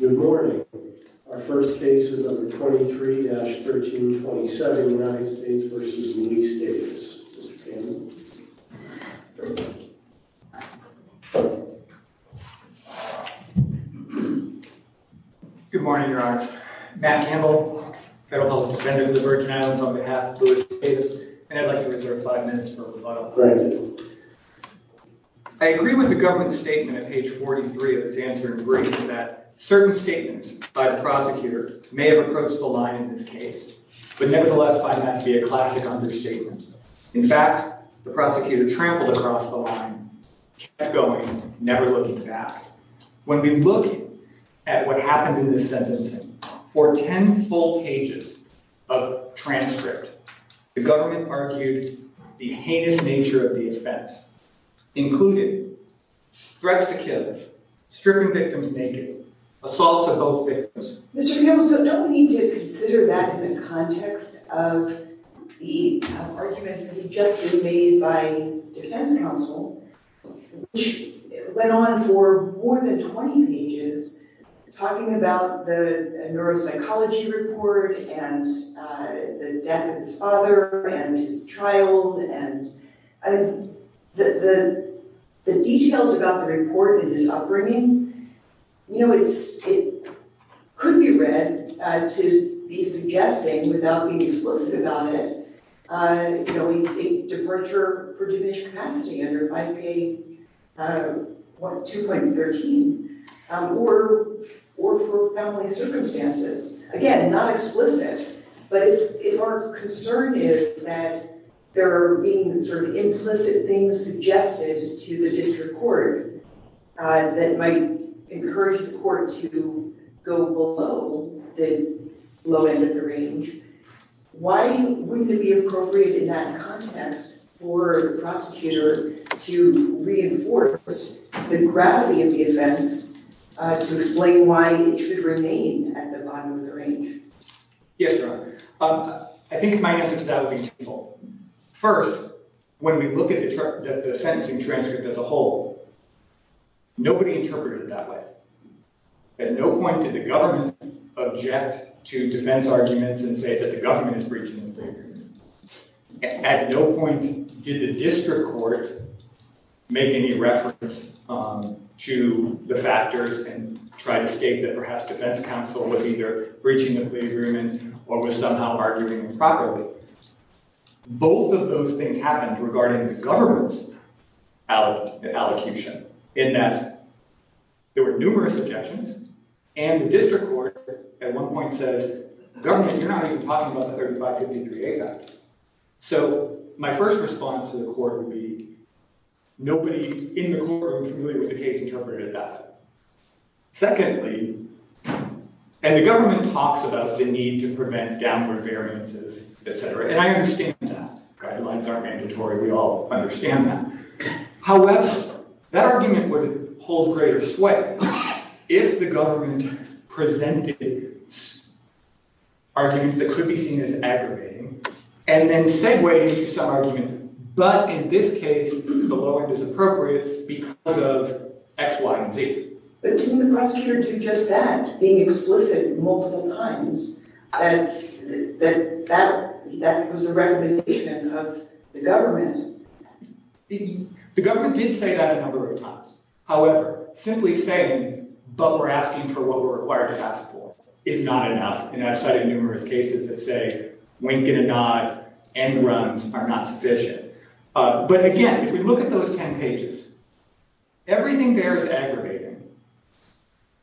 Good morning. Our first case is number 23-1327, United States v. Louis Davis. Mr. Campbell. Good morning, Your Honor. Matt Campbell, Federal Public Defender of the Virgin Islands, on behalf of Louis Davis. And I'd like to reserve five minutes for rebuttal. Thank you. I agree with the government's statement at page 43 of its answering brief that certain statements by the prosecutor may have approached the line in this case, but nevertheless find that to be a classic understatement. In fact, the prosecutor trampled across the line, kept going, never looking back. When we look at what happened in this sentencing, for ten full pages of transcript, the government argued the heinous nature of the offense, including threats to kill, stripping victims naked, assaults of both victims. Mr. Campbell, don't we need to consider that in the context of the arguments that have just been made by defense counsel, which went on for more than 20 pages, talking about the neuropsychology report and the death of his father and his child and the details about the report and his upbringing? You know, it could be read to be suggesting, without being explicit about it, a departure for diminished capacity under IPA 2.13 or for family circumstances. Again, not explicit, but if our concern is that there are being sort of implicit things suggested to the district court that might encourage the court to go below the low end of the range, why wouldn't it be appropriate in that context for the prosecutor to reinforce the gravity of the events to explain why it should remain at the bottom of the range? Yes, Your Honor. I think my answer to that would be twofold. First, when we look at the sentencing transcript as a whole, nobody interpreted it that way. At no point did the government object to defense arguments and say that the government is breaching the plea agreement. At no point did the district court make any reference to the factors and try to state that perhaps defense counsel was either breaching the plea agreement or was somehow arguing improperly. Both of those things happened regarding the government's allocution, in that there were numerous objections, and the district court at one point says, government, you're not even talking about the 3553A fact. So my first response to the court would be, nobody in the courtroom familiar with the case interpreted that. Secondly, and the government talks about the need to prevent downward variances, et cetera, and I understand that. Guidelines aren't mandatory. We all understand that. However, that argument would hold greater sway if the government presented arguments that could be seen as aggravating and then segued into some arguments, but in this case, the lower disappropriates because of X, Y, and Z. But didn't the prosecutor do just that, being explicit multiple times, that that was the recommendation of the government? The government did say that a number of times. However, simply saying, but we're asking for what we're required to ask for, is not enough. And I've studied numerous cases that say, wink and a nod, end runs are not sufficient. But again, if we look at those 10 pages, everything there is aggravating.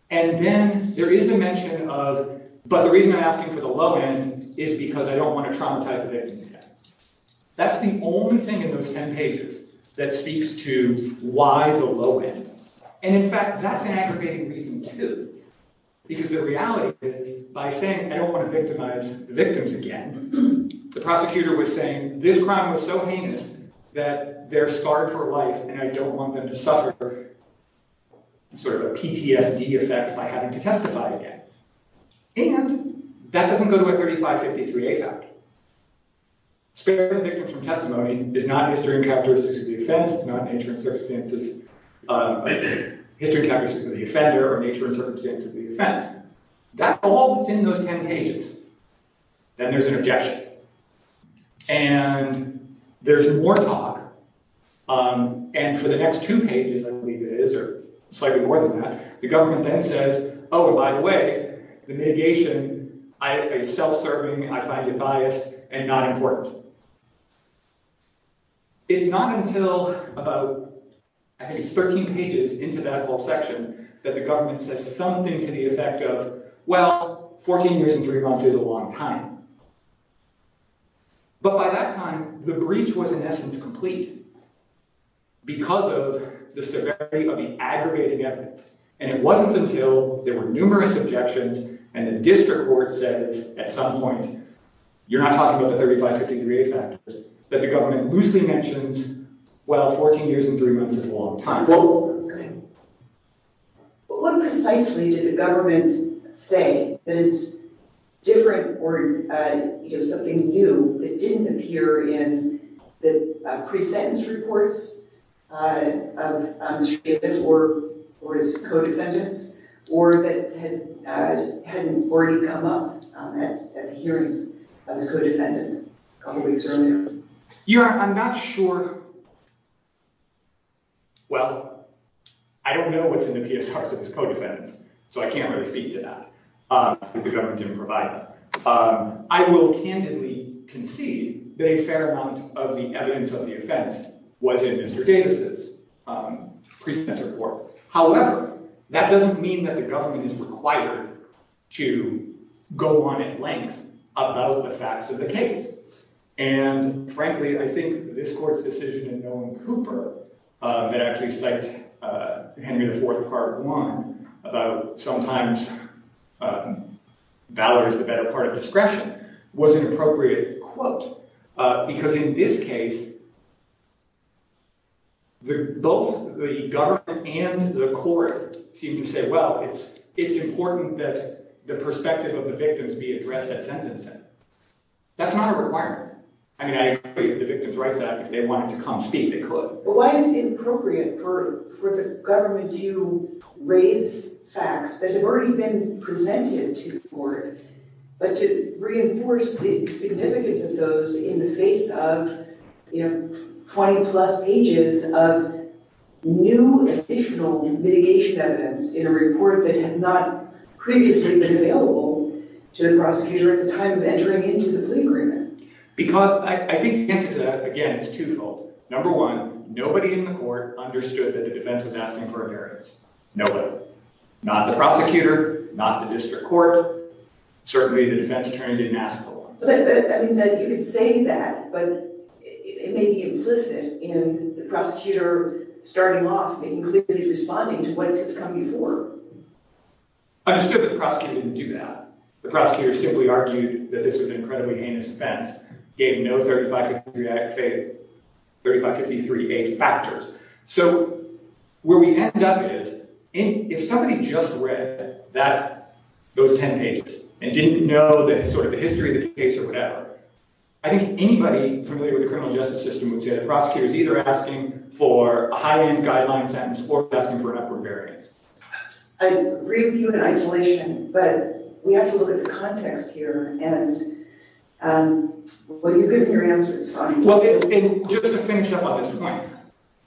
And then there is a mention of, but the reason I'm asking for the low end is because I don't want to traumatize the victims again. That's the only thing in those 10 pages that speaks to why the low end. And in fact, that's an aggravating reason, too, because the reality is, by saying I don't want to victimize the victims again, the prosecutor was saying this crime was so heinous that they're scarred for life and I don't want them to suffer a PTSD effect by having to testify again. And that doesn't go to a 3553A fact. Sparing victims from testimony is not history and characteristics of the offender or nature and circumstances of the offense. That's all that's in those 10 pages. Then there's an objection. And there's more talk. And for the next two pages, I believe it is, or slightly more than that, the government then says, oh, by the way, the mitigation is self-serving, I find it biased, and not important. It's not until about, I think it's 13 pages into that whole section, that the government says something to the effect of, well, 14 years and three months is a long time. But by that time, the breach was in essence complete because of the severity of the aggravating evidence. And it wasn't until there were numerous objections and the district court said at some point, you're not talking about the 3553A factors, that the government loosely mentions, well, 14 years and three months is a long time. But what precisely did the government say that is different or something new that didn't appear in the pre-sentence reports of Mr. Davis or his co-defendants, or that hadn't already come up at the hearing of his co-defendant a couple weeks earlier? I'm not sure, well, I don't know what's in the PSRs of his co-defendants, so I can't really speak to that, because the government didn't provide them. I will candidly concede that a fair amount of the evidence of the offense was in Mr. Davis' pre-sentence report. However, that doesn't mean that the government is required to go on at length about the facts of the case. And frankly, I think this court's decision in Nolan Cooper, that actually cites Henry IV, Part 1, about sometimes valor is the better part of discretion, was an appropriate quote, because in this case, both the government and the court seem to say, well, it's important that the perspective of the victims be addressed at sentencing. That's not a requirement. I mean, I agree with the Victims' Rights Act. If they wanted to come speak, they could. But why is it inappropriate for the government to raise facts that have already been presented to the court, but to reinforce the significance of those in the face of 20-plus pages of new additional mitigation evidence in a report that had not previously been available to the prosecutor at the time of entering into the plea agreement? I think the answer to that, again, is twofold. Number one, nobody in the court understood that the defense was asking for a variance. Nobody. Not the prosecutor, not the district court, certainly the defense attorney didn't ask for one. You can say that, but it may be implicit in the prosecutor starting off and clearly responding to what has come before. Understood that the prosecutor didn't do that. The prosecutor simply argued that this was an incredibly heinous offense, gave no 3553A factors. So, where we end up is, if somebody just read those 10 pages and didn't know the history of the case or whatever, I think anybody familiar with the criminal justice system would say the prosecutor is either asking for a high-end guideline sentence or is asking for an upward variance. I agree with you in isolation, but we have to look at the context here, and what you've given your answer is fine. Just to finish up on this point,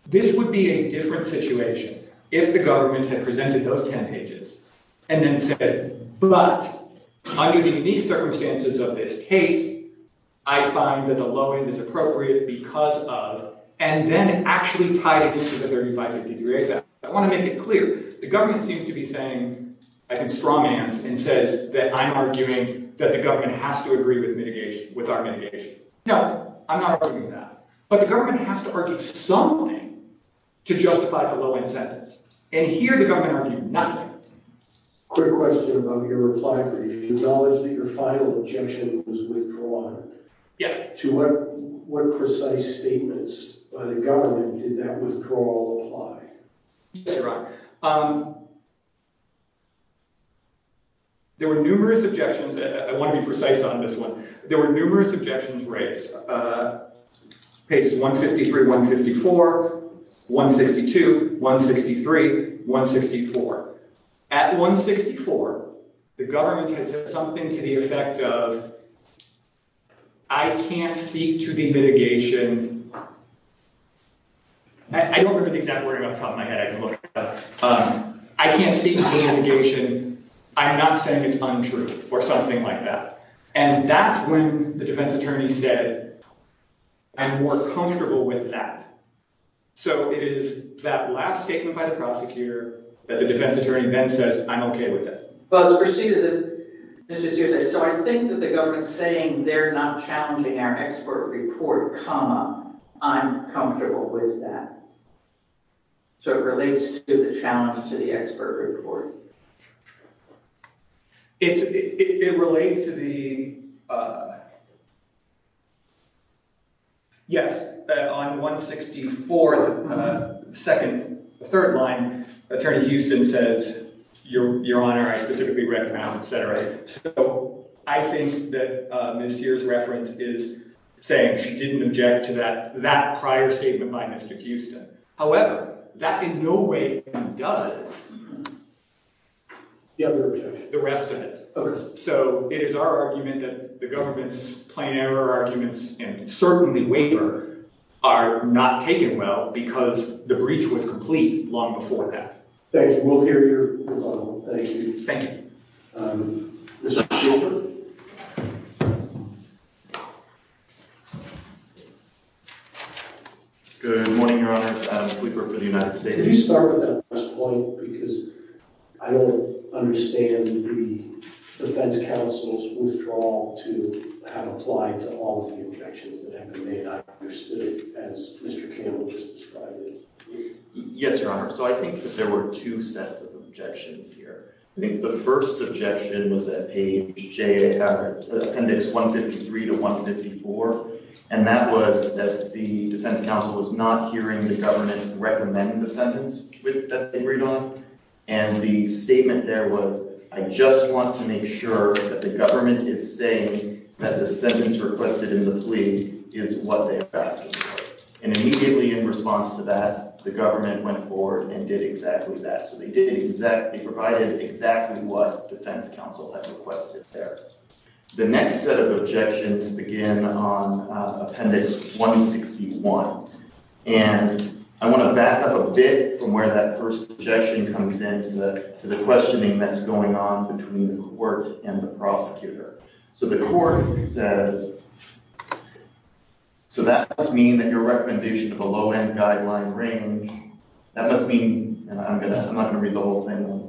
this would be a different situation if the government had presented those 10 pages and then said, but under the unique circumstances of this case, I find that the low end is appropriate because of, and then actually tied it into the 3553A. I want to make it clear, the government seems to be saying, I can strongly answer, and says that I'm arguing that the government has to agree with our mitigation. No, I'm not arguing that, but the government has to argue something to justify the low end sentence, and here the government argued nothing. Quick question about your reply brief. Do you acknowledge that your final objection was withdrawn? Yes. To what precise statements by the government did that withdrawal apply? Yes, Your Honor. There were numerous objections. I want to be precise on this one. There were numerous objections raised. Pages 153, 154, 162, 163, 164. At 164, the government had said something to the effect of, I can't speak to the mitigation. I don't remember the exact wording off the top of my head. I can look it up. I can't speak to the mitigation. I'm not saying it's untrue or something like that, and that's when the defense attorney said, I'm more comfortable with that. So it is that last statement by the prosecutor that the defense attorney then says, I'm okay with that. Well, it's preceded that Mr. Sears said, so I think that the government's saying they're not challenging our expert report, comma, I'm comfortable with that. So it relates to the challenge to the expert report. It relates to the, yes, on 164, the second, third line, Attorney Houston says, Your Honor, I specifically recognize, et cetera. So I think that Ms. Sears' reference is saying she didn't object to that prior statement by Mr. Houston. However, that in no way undoes the other objection, the rest of it. So it is our argument that the government's plain error arguments and certainly waiver are not taken well because the breach was complete long before that. Thank you. We'll hear your comment. Thank you. Thank you. Mr. Gilbert. Good morning, Your Honor. Adam Sleeper for the United States. Could you start with that last point because I don't understand the defense counsel's withdrawal to have applied to all of the objections that have been made. I understood it as Mr. Campbell just described it. Yes, Your Honor. So I think that there were two sets of objections here. I think the first objection was at page J, appendix 153 to 154, and that was that the defense counsel was not hearing the government recommend the sentence that they agreed on. And the statement there was, I just want to make sure that the government is saying that the sentence requested in the plea is what they have asked for. And immediately in response to that, the government went forward and did exactly that. So they provided exactly what defense counsel had requested there. The next set of objections begin on appendix 161. And I want to back up a bit from where that first objection comes in to the questioning that's going on between the court and the prosecutor. So the court says, so that must mean that your recommendation of a low-end guideline range, that must mean, and I'm not going to read the whole thing.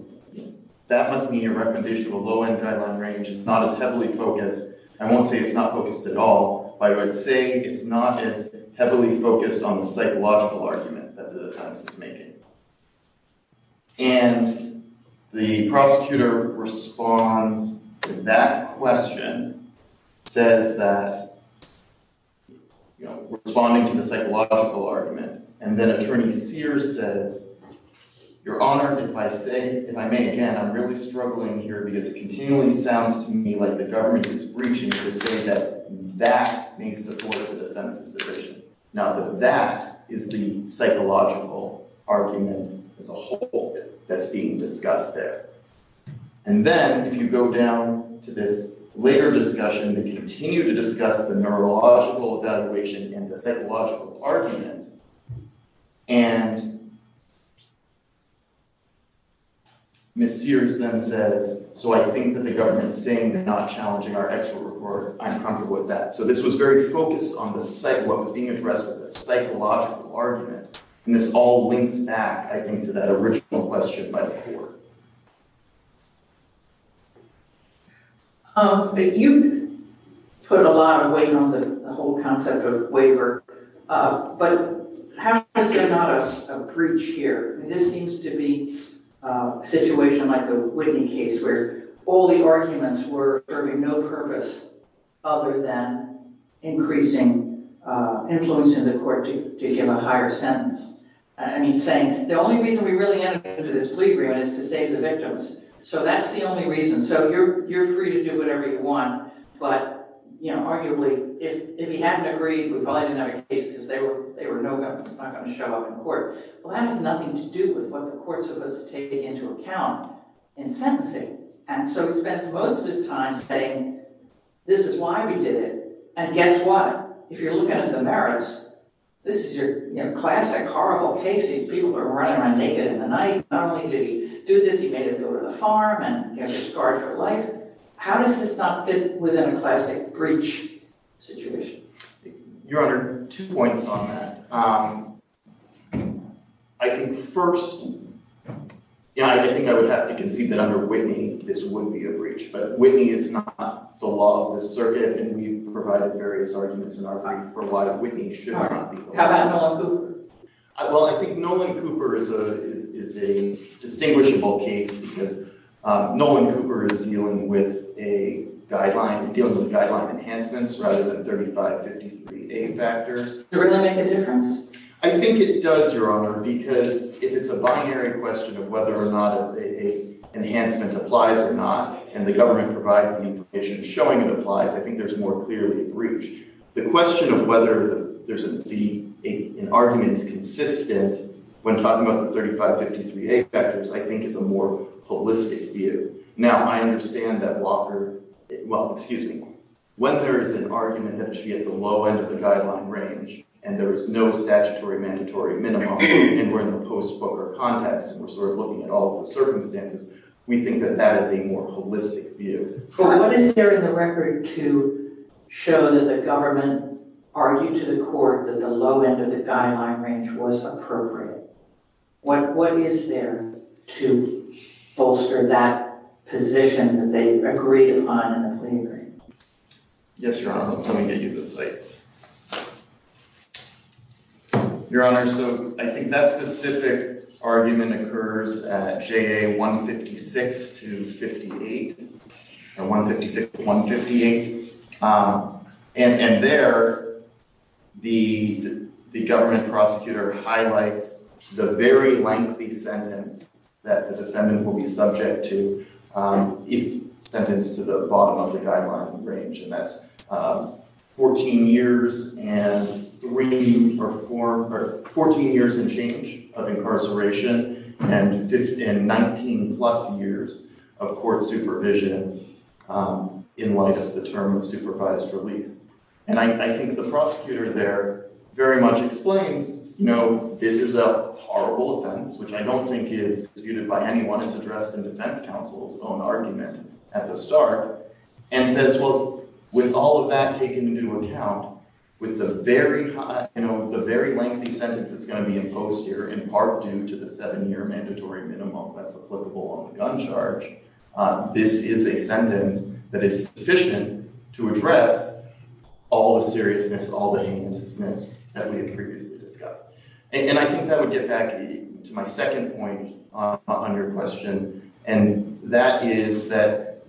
That must mean your recommendation of a low-end guideline range is not as heavily focused. I won't say it's not focused at all, but I would say it's not as heavily focused on the psychological argument that the defense is making. And the prosecutor responds to that question, says that, you know, responding to the psychological argument. And then Attorney Sears says, Your Honor, if I may again, I'm really struggling here because it continually sounds to me like the government is reaching to say that that may support the defense's position. Not that that is the psychological argument as a whole that's being discussed there. And then if you go down to this later discussion, they continue to discuss the neurological evaluation and the psychological argument. And Ms. Sears then says, So I think that the government's saying they're not challenging our expert report. I'm comfortable with that. So this was very focused on what was being addressed with a psychological argument. And this all links back, I think, to that original question by the court. You put a lot of weight on the whole concept of waiver. But how is there not a breach here? This seems to be a situation like the Whitney case where all the arguments were serving no purpose other than increasing influence in the court to give a higher sentence. I mean, saying the only reason we really entered into this plea agreement is to save the victims. So that's the only reason. So you're free to do whatever you want. But arguably, if he hadn't agreed, we probably didn't have a case because they were not going to show up in court. Well, that has nothing to do with what the court's supposed to take into account in sentencing. And so he spends most of his time saying, this is why we did it. And guess what? If you're looking at the merits, this is your classic horrible case. These people are running around naked in the night. Not only did he do this, he made them go to the farm and get them scarred for life. How does this not fit within a classic breach situation? Your Honor, two points on that. I think first, yeah, I think I would have to concede that under Whitney, this would be a breach. But Whitney is not the law of the circuit. And we've provided various arguments in our brief for why Whitney should not be the law of the circuit. How about Nolan Cooper? Well, I think Nolan Cooper is a distinguishable case because Nolan Cooper is dealing with a guideline, dealing with guideline enhancements rather than 3553A factors. Does that make a difference? I think it does, Your Honor, because if it's a binary question of whether or not an enhancement applies or not, and the government provides the information showing it applies, I think there's more clearly a breach. The question of whether an argument is consistent when talking about the 3553A factors I think is a more holistic view. Now, I understand that Walker, well, excuse me, when there is an argument that it should be at the low end of the guideline range and there is no statutory mandatory minimum and we're in the post-Broker context and we're sort of looking at all of the circumstances, we think that that is a more holistic view. But what is there in the record to show that the government argued to the court that the low end of the guideline range was appropriate? What is there to bolster that position that they agreed upon in the plea agreement? Yes, Your Honor. Let me get you the cites. Your Honor, so I think that specific argument occurs at JA 156-158. And there, the government prosecutor highlights the very lengthy sentence that the defendant will be subject to if sentenced to the bottom of the guideline range. And that's 14 years and change of incarceration and 19 plus years of court supervision in light of the term of supervised release. And I think the prosecutor there very much explains, you know, this is a horrible offense, which I don't think is disputed by anyone. It's addressed in defense counsel's own argument at the start. And says, well, with all of that taken into account, with the very lengthy sentence that's going to be imposed here, in part due to the seven-year mandatory minimum that's applicable on the gun charge, this is a sentence that is sufficient to address all the seriousness, all the heinousness that we had previously discussed. And I think that would get back to my second point on your question. And that is that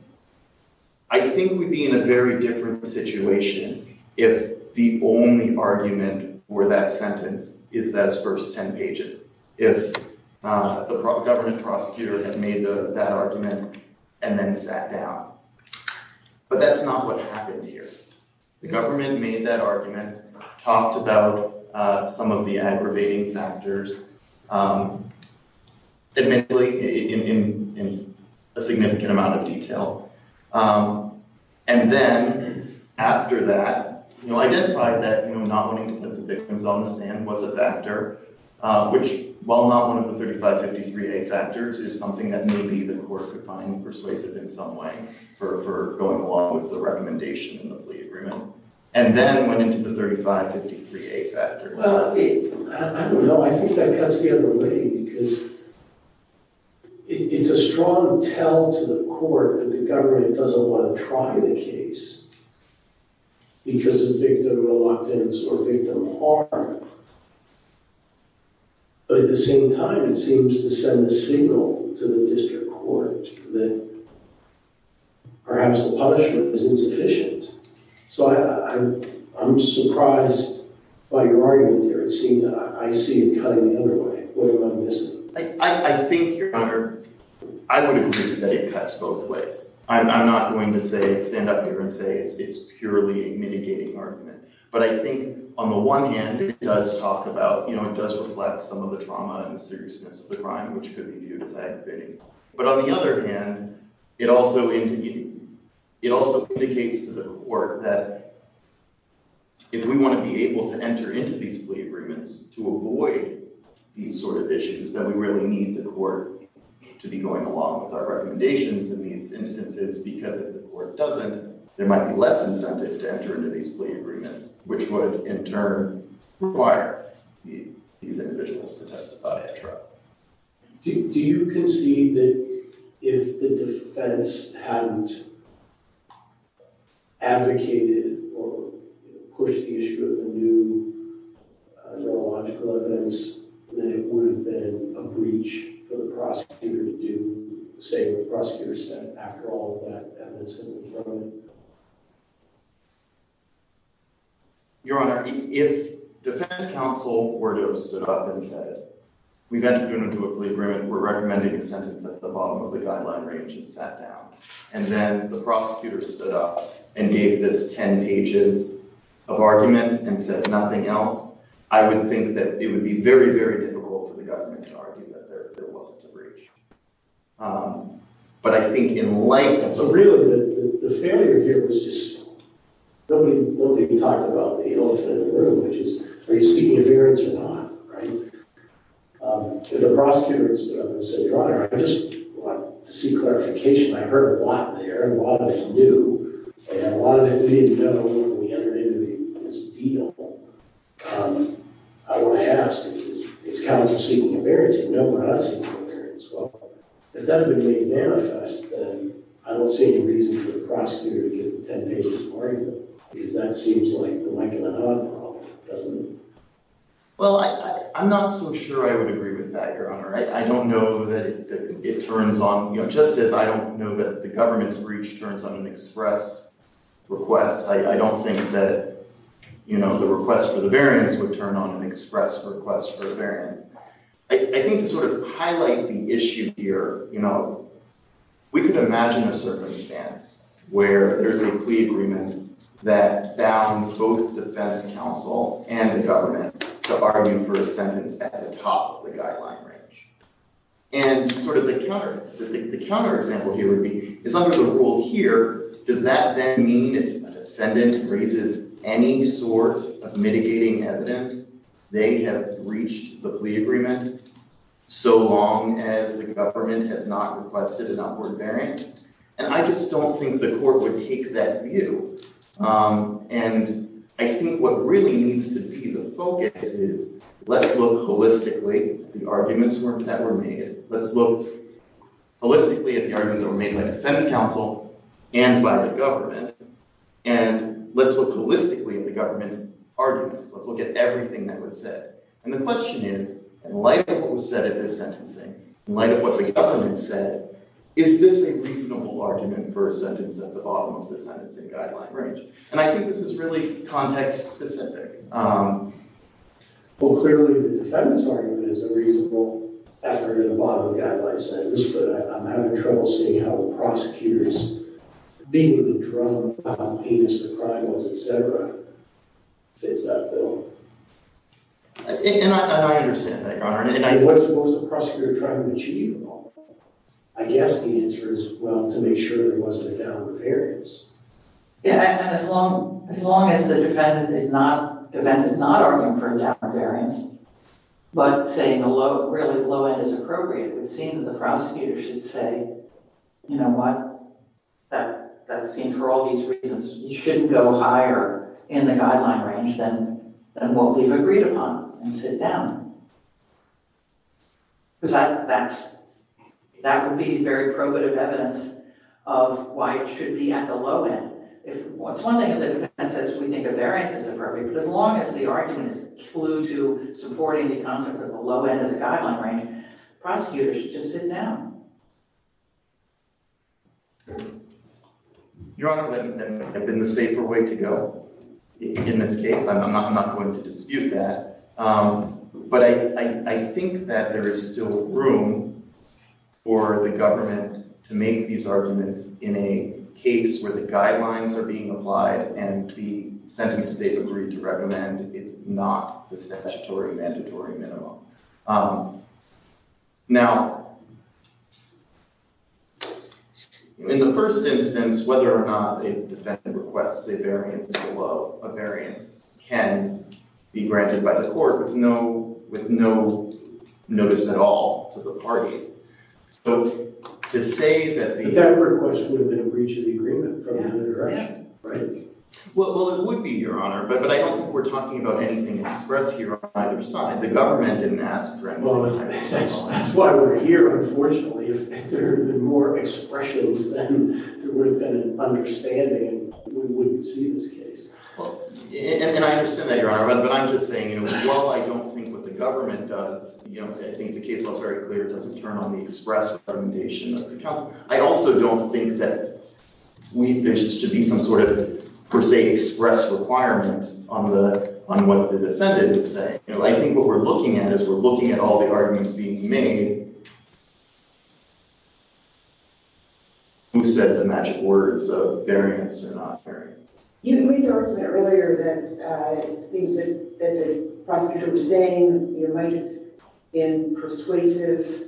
I think we'd be in a very different situation if the only argument for that sentence is those first 10 pages. If the government prosecutor had made that argument and then sat down. But that's not what happened here. The government made that argument, talked about some of the aggravating factors. Admittedly, in a significant amount of detail. And then after that, you know, identified that not wanting to put the victims on the stand was a factor, which while not one of the 3553A factors, is something that maybe the court could find persuasive in some way for going along with the recommendation in the plea agreement. And then went into the 3553A factor. Well, I don't know. I think that cuts the other way because it's a strong tell to the court that the government doesn't want to try the case because of victim reluctance or victim harm. But at the same time, it seems to send a signal to the district court that perhaps the punishment is insufficient. So I'm surprised by your argument here. It seems that I see it cutting the other way. What am I missing? I think, Your Honor, I would agree that it cuts both ways. I'm not going to stand up here and say it's purely a mitigating argument. But I think on the one hand, it does talk about, you know, it does reflect some of the trauma and seriousness of the crime, which could be viewed as aggravating. But on the other hand, it also indicates to the court that if we want to be able to enter into these plea agreements to avoid these sort of issues, that we really need the court to be going along with our recommendations in these instances because if the court doesn't, there might be less incentive to enter into these plea agreements, which would in turn require these individuals to testify in trial. Do you concede that if the defense hadn't advocated or pushed the issue of the new neurological events, that it would have been a breach for the prosecutor to do, say, what the prosecutor said after all of that evidence has been thrown in? Your Honor, if defense counsel were to have stood up and said, we've entered into a plea agreement, we're recommending a sentence at the bottom of the guideline range, and sat down, and then the prosecutor stood up and gave this 10 pages of argument and said nothing else, I would think that it would be very, very difficult for the government to argue that there wasn't a breach. But I think in light of the… So really, the failure here was just… Nobody talked about the elephant in the room, which is, are you seeking interference or not, right? If the prosecutor had stood up and said, Your Honor, I just want to seek clarification. I heard a lot there, a lot of it new, and a lot of it we didn't know when we entered into this deal. I want to ask, is counsel seeking interference? No, we're not seeking interference. Well, if that had been made manifest, then I don't see any reason for the prosecutor to give the 10 pages of argument, because that seems like the like and unhug problem, doesn't it? Well, I'm not so sure I would agree with that, Your Honor. I don't know that it turns on… You know, just as I don't know that the government's breach turns on an express request, I don't think that, you know, the request for the variance would turn on an express request for a variance. I think to sort of highlight the issue here, you know, we could imagine a circumstance where there's a plea agreement that bound both defense counsel and the government to argue for a sentence at the top of the guideline range. And sort of the counter… It's under the rule here. Does that then mean if a defendant raises any sort of mitigating evidence, they have breached the plea agreement so long as the government has not requested an upward variance? And I just don't think the court would take that view. And I think what really needs to be the focus is let's look holistically at the arguments that were made. Let's look holistically at the arguments that were made by defense counsel and by the government, and let's look holistically at the government's arguments. Let's look at everything that was said. And the question is, in light of what was said at this sentencing, in light of what the government said, is this a reasonable argument for a sentence at the bottom of the sentencing guideline range? And I think this is really context-specific. Well, clearly, the defendant's argument is a reasonable effort at the bottom of the guideline sentence, but I'm having trouble seeing how the prosecutor's being with the drug, how heinous the crime was, et cetera, fits that bill. And I understand that, Your Honor. And what's the prosecutor trying to achieve? I guess the answer is, well, to make sure there wasn't a downward variance. Yeah, and as long as the defense is not arguing for a downward variance, but saying, really, the low end is appropriate, it would seem that the prosecutor should say, you know what? That seems, for all these reasons, you shouldn't go higher in the guideline range than what we've agreed upon and sit down. Because that would be very probative evidence of why it should be at the low end. It's one thing if the defense says we think a variance is appropriate, but as long as the argument is a clue to supporting the concept of the low end of the guideline range, the prosecutor should just sit down. Your Honor, that would have been the safer way to go in this case. I'm not going to dispute that. But I think that there is still room for the government to make these arguments in a case where the guidelines are being applied and the sentence that they've agreed to recommend is not the statutory mandatory minimum. Now, in the first instance, whether or not a defendant requests a variance below, a variance can be granted by the court with no notice at all to the parties. But that request would have been a breach of the agreement from either direction, right? Well, it would be, Your Honor. But I don't think we're talking about anything expressed here on either side. The government didn't ask for anything. That's why we're here, unfortunately. If there had been more expressions, then there would have been an understanding and we wouldn't see this case. And I understand that, Your Honor. But I'm just saying, you know, while I don't think what the government does, you know, I think the case looks very clear, it doesn't turn on the express recommendation of the counsel. I also don't think that there should be some sort of per se express requirement on what the defendant is saying. You know, I think what we're looking at is we're looking at all the arguments being made. Who said the magic words of variance or not variance? You know, we talked about earlier that things that the prosecutor was saying might have been persuasive.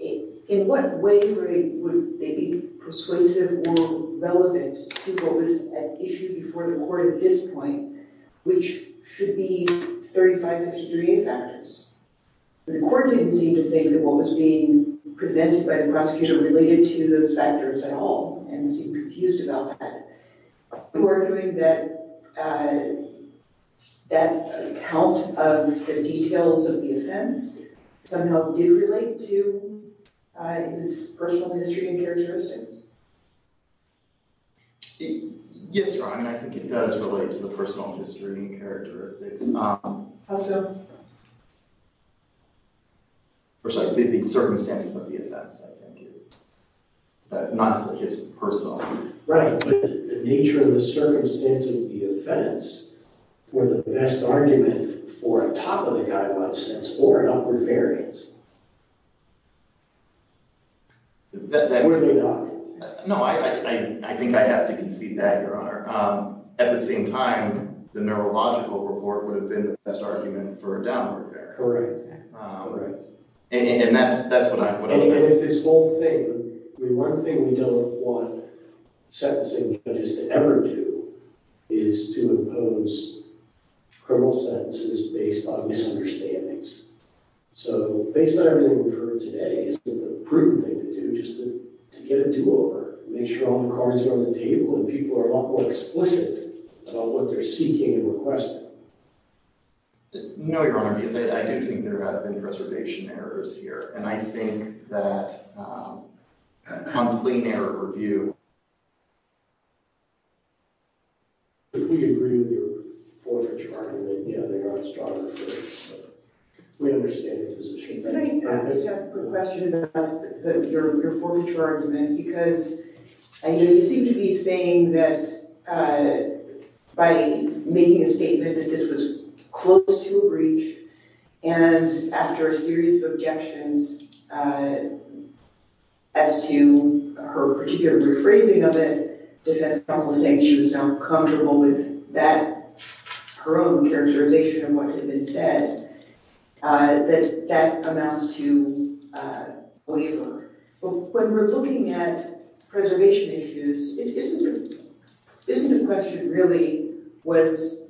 In what way would they be persuasive or relevant to what was at issue before the court at this point, which should be 35-53A factors? The court didn't seem to think that what was being presented by the prosecution related to those factors at all and seemed confused about that. Are you arguing that that count of the details of the offense somehow did relate to this personal history and characteristics? Yes, Your Honor. I think it does relate to the personal history and characteristics. How so? I'm sorry, the circumstances of the offense, I think. It's not as if it's personal. Right, but the nature of the circumstances of the offense were the best argument for a top-of-the-guideline sentence or an upward variance. Were they not? No, I think I have to concede that, Your Honor. At the same time, the neurological report would have been the best argument for a downward variance. Correct. And that's what I think. And if this whole thing, the one thing we don't want sentencing judges to ever do is to impose criminal sentences based on misunderstandings. So based on everything we've heard today, isn't it a prudent thing to do just to get a do-over, make sure all the cards are on the table and people are a lot more explicit about what they're seeking and requesting? No, Your Honor. I do think there have been preservation errors here, and I think that a complaint error review... If we agree with your forfeiture argument, you know, they are astronomers, so we understand the position. Can I ask a question about your forfeiture argument? Because you seem to be saying that by making a statement that this was close to a breach and after a series of objections as to her particular rephrasing of it, defense counsel saying she was not comfortable with that, her own characterization of what had been said, that that amounts to a waiver. But when we're looking at preservation issues, isn't the question really, was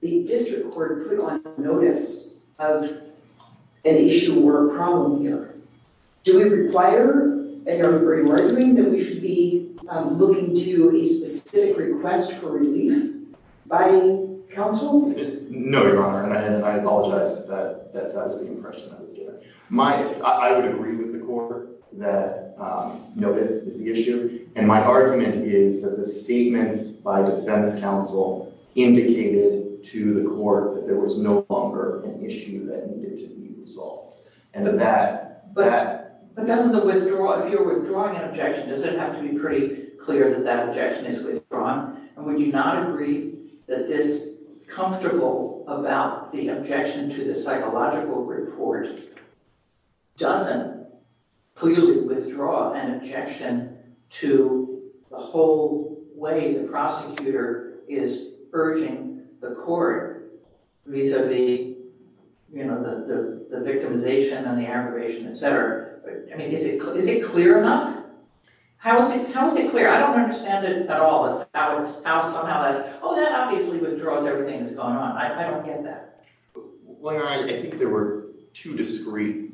the district court putting on notice of an issue or a problem here? Do we require a jury argument that we should be looking to a specific request for relief by counsel? No, Your Honor, and I apologize if that was the impression I was getting. I would agree with the court that notice is the issue, and my argument is that the statements by defense counsel indicated to the court that there was no longer an issue that needed to be resolved. But if you're withdrawing an objection, does it have to be pretty clear that that objection is withdrawn? And would you not agree that this comfortable about the objection to the psychological report doesn't clearly withdraw an objection to the whole way the prosecutor is urging the court vis-a-vis the victimization and the aggravation, et cetera? I mean, is it clear enough? How is it clear? I don't understand it at all as to how somehow that's, withdraws everything that's going on. I don't get that. Well, Your Honor, I think there were two discreet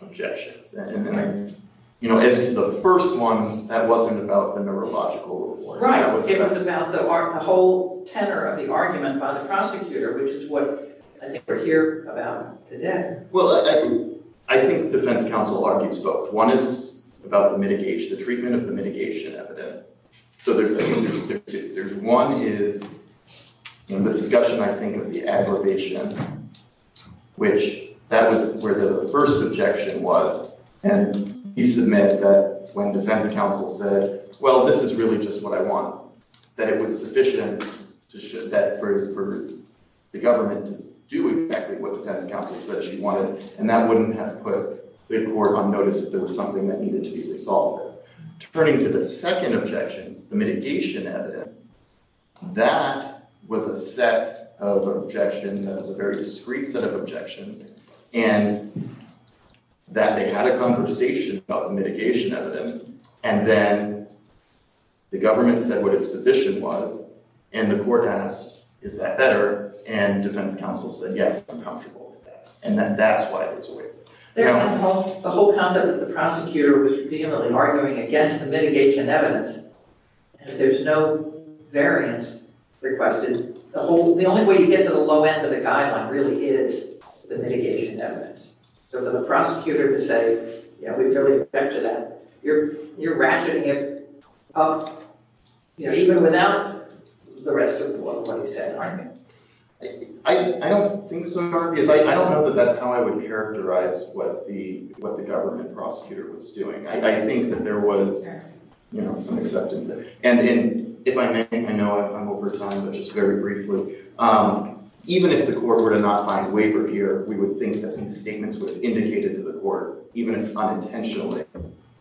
objections. And then I, you know, as the first one, that wasn't about the neurological report. Right. It was about the whole tenor of the argument by the prosecutor, which is what I think we're here about today. Well, I think defense counsel argues both. One is about the mitigation, the treatment of the mitigation evidence. So there's one is in the discussion, I think, of the aggravation, which that was where the first objection was. And he submitted that when defense counsel said, well, this is really just what I want, that it was sufficient for the government to do exactly what defense counsel said she wanted. And that wouldn't have put the court on notice that there was something that needed to be resolved. Turning to the second objections, the mitigation evidence, that was a set of objection that was a very discreet set of objections in that they had a conversation about the mitigation evidence. And then the government said what its position was. And the court asked, is that better? And defense counsel said, yes, I'm comfortable with that. And that's why it was waived. The whole concept of the prosecutor was vehemently arguing against the mitigation evidence. And if there's no variance requested, the only way you get to the low end of the guideline really is the mitigation evidence. So for the prosecutor to say, yeah, we totally object to that, you're ratcheting it up even without the rest of what he said. I don't think so, Mark. I don't know that that's how I would characterize what the government prosecutor was doing. I think that there was some acceptance there. And if I may, I know I'm over time, but just very briefly, even if the court were to not find waiver here, we would think that these statements would have indicated to the court, even if unintentionally,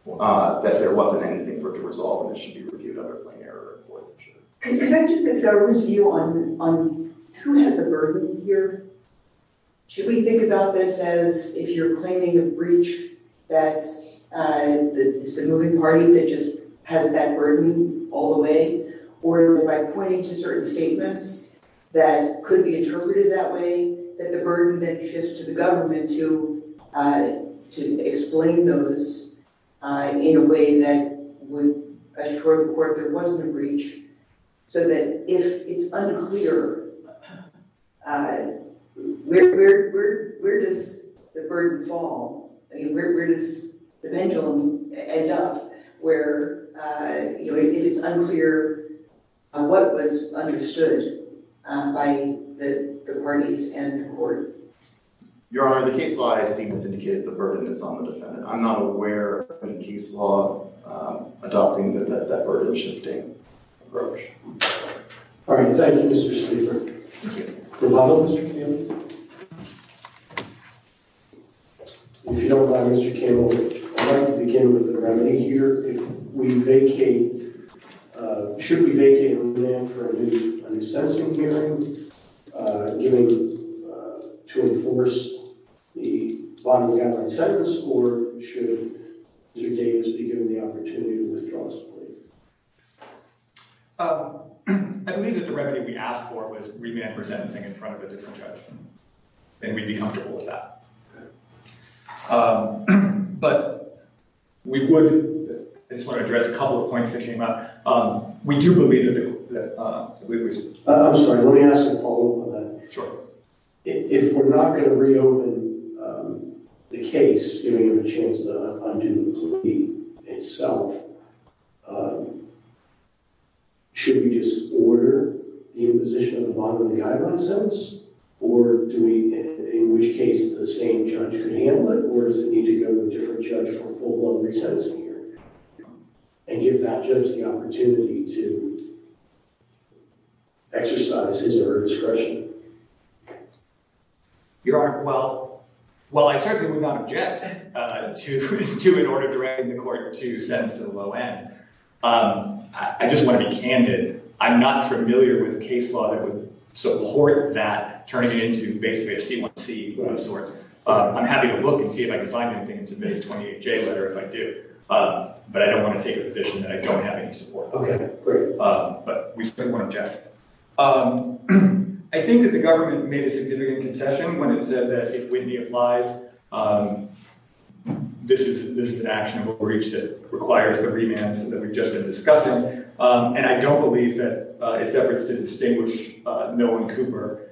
that there wasn't anything for it to resolve and it should be reviewed under plain error. Can I just get the government's view on who has the burden here? Should we think about this as if you're claiming a breach that it's the moving party that just has that burden all the way, or by pointing to certain statements that could be interpreted that way, that the burden then shifts to the government to explain those in a way that would assure the court there is a breach, so that if it's unclear, where does the burden fall? I mean, where does the pendulum end up where it is unclear what was understood by the parties and the court? Your Honor, the case law I see has indicated the burden is on the defendant. I'm not aware of any case law adopting that burden-shifting approach. All right, thank you, Mr. Sleeper. Good morning, Mr. Campbell. If you don't mind, Mr. Campbell, I'd like to begin with a remedy here. Should we vacate on demand for a new sentencing hearing given to enforce the bottom of the outline sentence, or should Mr. Davis be given the opportunity to withdraw his plea? I believe that the remedy we asked for was remand for sentencing in front of a different judge, and we'd be comfortable with that. But we would just want to address a couple of points that came up. We do believe that the reason. I'm sorry, let me ask a follow-up on that. Sure. If we're not going to reopen the case, giving him a chance to undo the plea itself, should we just order the imposition of the bottom of the guideline sentence? Or do we, in which case, the same judge could handle it? Or does it need to go to a different judge for a full-blown re-sentencing hearing and give that judge the opportunity to exercise his or her discretion? Your Honor, well, I certainly would not object to an order directing the court to sentence to the low end. I just want to be candid. I'm not familiar with a case law that would support that turning it into basically a C1C, one of those sorts. I'm happy to look and see if I can find anything and submit a 28-J letter if I do. But I don't want to take a position that I don't have any support. OK, great. But we certainly won't object. I think that the government made a significant concession when it said that if Whitney applies, this is an actionable breach that requires the remand that we've just been discussing. And I don't believe that it's efforts to distinguish Noah Cooper.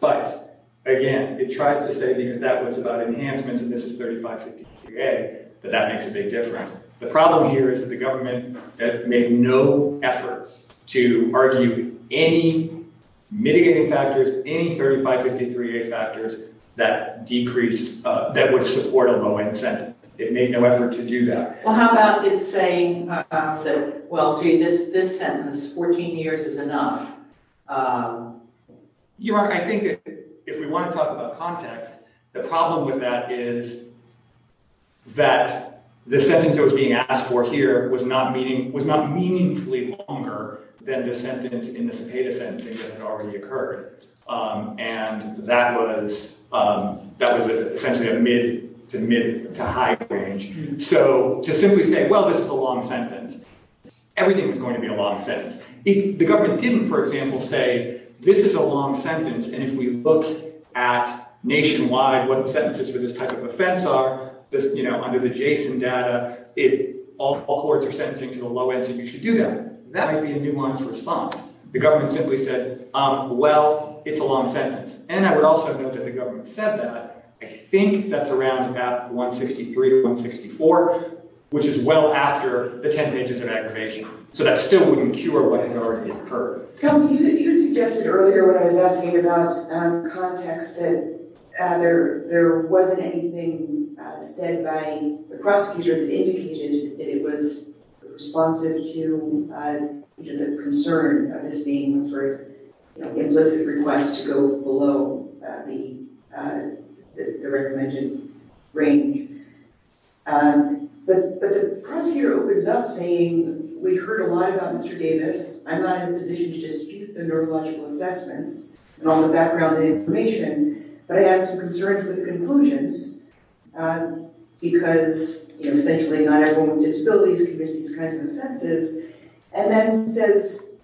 But again, it tries to say, because that was about enhancements and this is 3553A, that that makes a big difference. The problem here is that the government made no efforts to argue any mitigating factors, any 3553A factors that would support a low-end sentence. It made no effort to do that. Well, how about it saying, well, gee, this sentence, 14 years is enough? I think if we want to talk about context, the problem with that is that the sentence that was being asked for here was not meaningfully longer than the sentence in the Cepeda sentencing that had already occurred. And that was essentially a mid to high range. So to simply say, well, this is a long sentence, everything was going to be a long sentence. The government didn't, for example, say, this is a long sentence. And if we look at nationwide what the sentences for this type of offense are, under the JSON data, all courts are sentencing to the low end, so you should do that. That might be a nuanced response. The government simply said, well, it's a long sentence. And I would also note that the government said that. I think that's around about 163 or 164, which is well after the 10 pages of aggravation. So that still wouldn't cure what had already occurred. Counsel, you had suggested earlier when I was asking about context that there wasn't anything said by the prosecutor that indicated that it was responsive to the concern of this being a very implicit request to go below the recommended range. But the prosecutor opens up saying, we've heard a lot about Mr. Davis. I'm not in a position to dispute the neurological assessments and all the background information, but I have some concerns with the conclusions because, essentially, not everyone with disabilities commits these kinds of offenses. And then he says,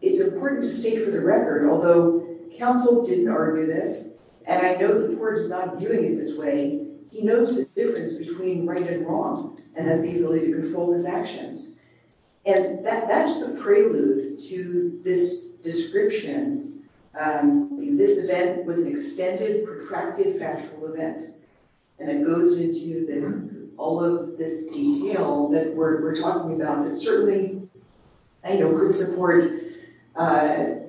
it's important to state for the record, although counsel didn't argue this, and I know the court is not viewing it this way, he knows the difference between right and wrong and has the ability to control his actions. And that's the prelude to this description. This event was an extended, protracted factual event. And it goes into all of this detail that we're talking about that certainly could support going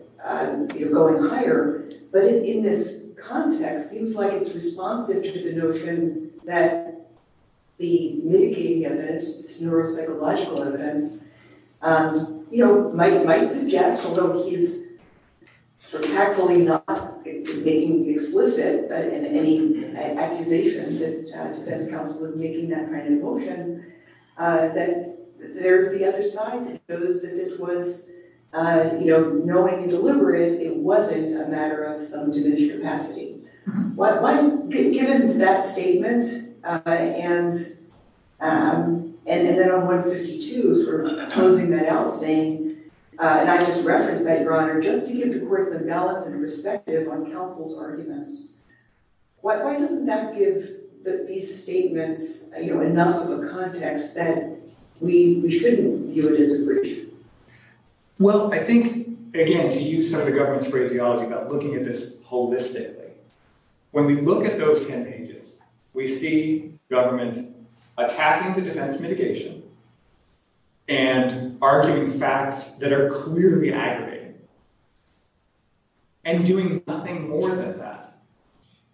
higher. But in this context, it seems like it's responsive to the notion that the mitigating evidence, this neuropsychological evidence, might suggest, although he's tactfully not making explicit any accusation that defense counsel is making that kind of motion, that there's the other side that shows that this was knowing and deliberate. It wasn't a matter of some diminished capacity. Given that statement, and then on 152, sort of closing that out, saying, and I just referenced that, Your Honor, just to give the court some balance and perspective on counsel's arguments, why doesn't that give these statements enough of a context that we shouldn't view it as a breach? Well, I think, again, to use some of the government's phraseology about looking at this holistically, when we look at those 10 pages, we see government attacking the defense mitigation and arguing facts that are clearly aggravating, and doing nothing more than that.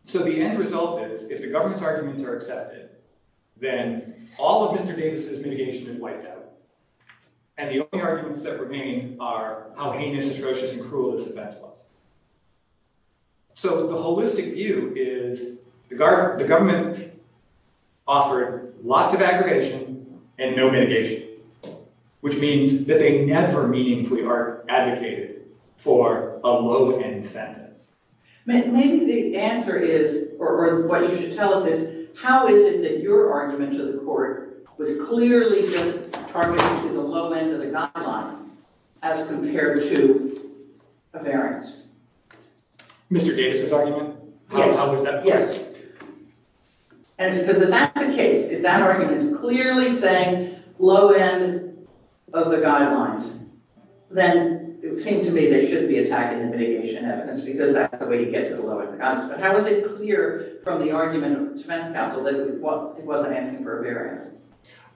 So the end result is, if the government's arguments are accepted, then all of Mr. Davis's mitigation is wiped out. And the only arguments that remain are how heinous, atrocious, and cruel this defense was. So the holistic view is, the government offered lots of aggregation and no mitigation, which means that they never meaningfully are advocated for a low-end sentence. Maybe the answer is, or what you should tell us is, how is it that your argument to the court was clearly just targeting to the low end of the guideline as compared to a variance? Mr. Davis's argument? Yes. How is that? Yes. And it's because if that's the case, if that argument is clearly saying low end of the guidelines, then it would seem to me they shouldn't be attacking the mitigation evidence, because that's the way you get to the low end. But how is it clear from the argument of defense counsel that it wasn't asking for a variance?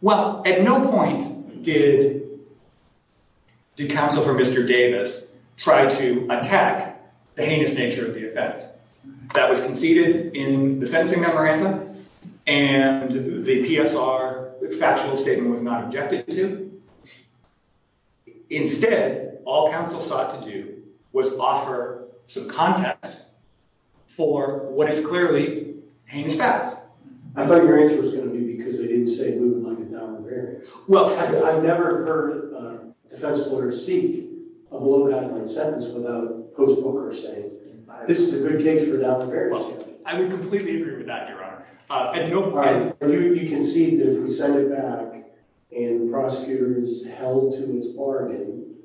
Well, at no point did counsel for Mr. Davis try to attack the heinous nature of the offense. That was conceded in the sentencing memorandum, and the PSR factual statement was not objected to. Instead, all counsel sought to do was offer some context for what is clearly heinous facts. I thought your answer was going to be because they didn't say move them on to a downward variance. Well, I've never heard a defense lawyer seek a low guideline sentence without a post-booker saying, this is a good case for a downward variance. I would completely agree with that, Your Honor. At no point. You concede that if we send it back and the prosecutor is held to his bargain,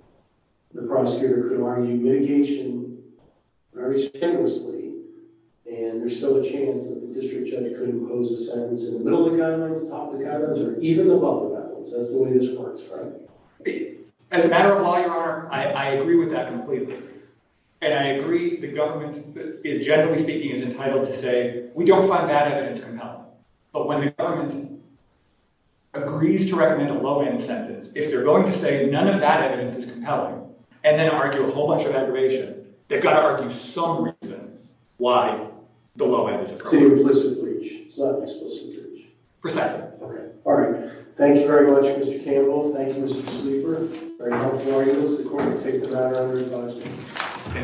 the prosecutor could argue mitigation very strenuously. And there's still a chance that the district judge could impose a sentence in the middle of the guidelines, top of the guidelines, or even above the guidelines. That's the way this works, right? As a matter of law, Your Honor, I agree with that completely. And I agree the government, generally speaking, is entitled to say, we don't find that evidence compelling. But when the government agrees to recommend a low end sentence, if they're going to say none of that evidence is compelling, and then argue a whole bunch of aggravation, they've got to argue some reasons why the low end is a crime. It's an implicit breach. It's not an explicit breach. Precisely. OK. All right. Thank you very much, Mr. Campbell. Thank you, Mr. Sleeper. Very helpful for you as the court to take the matter under your advisory.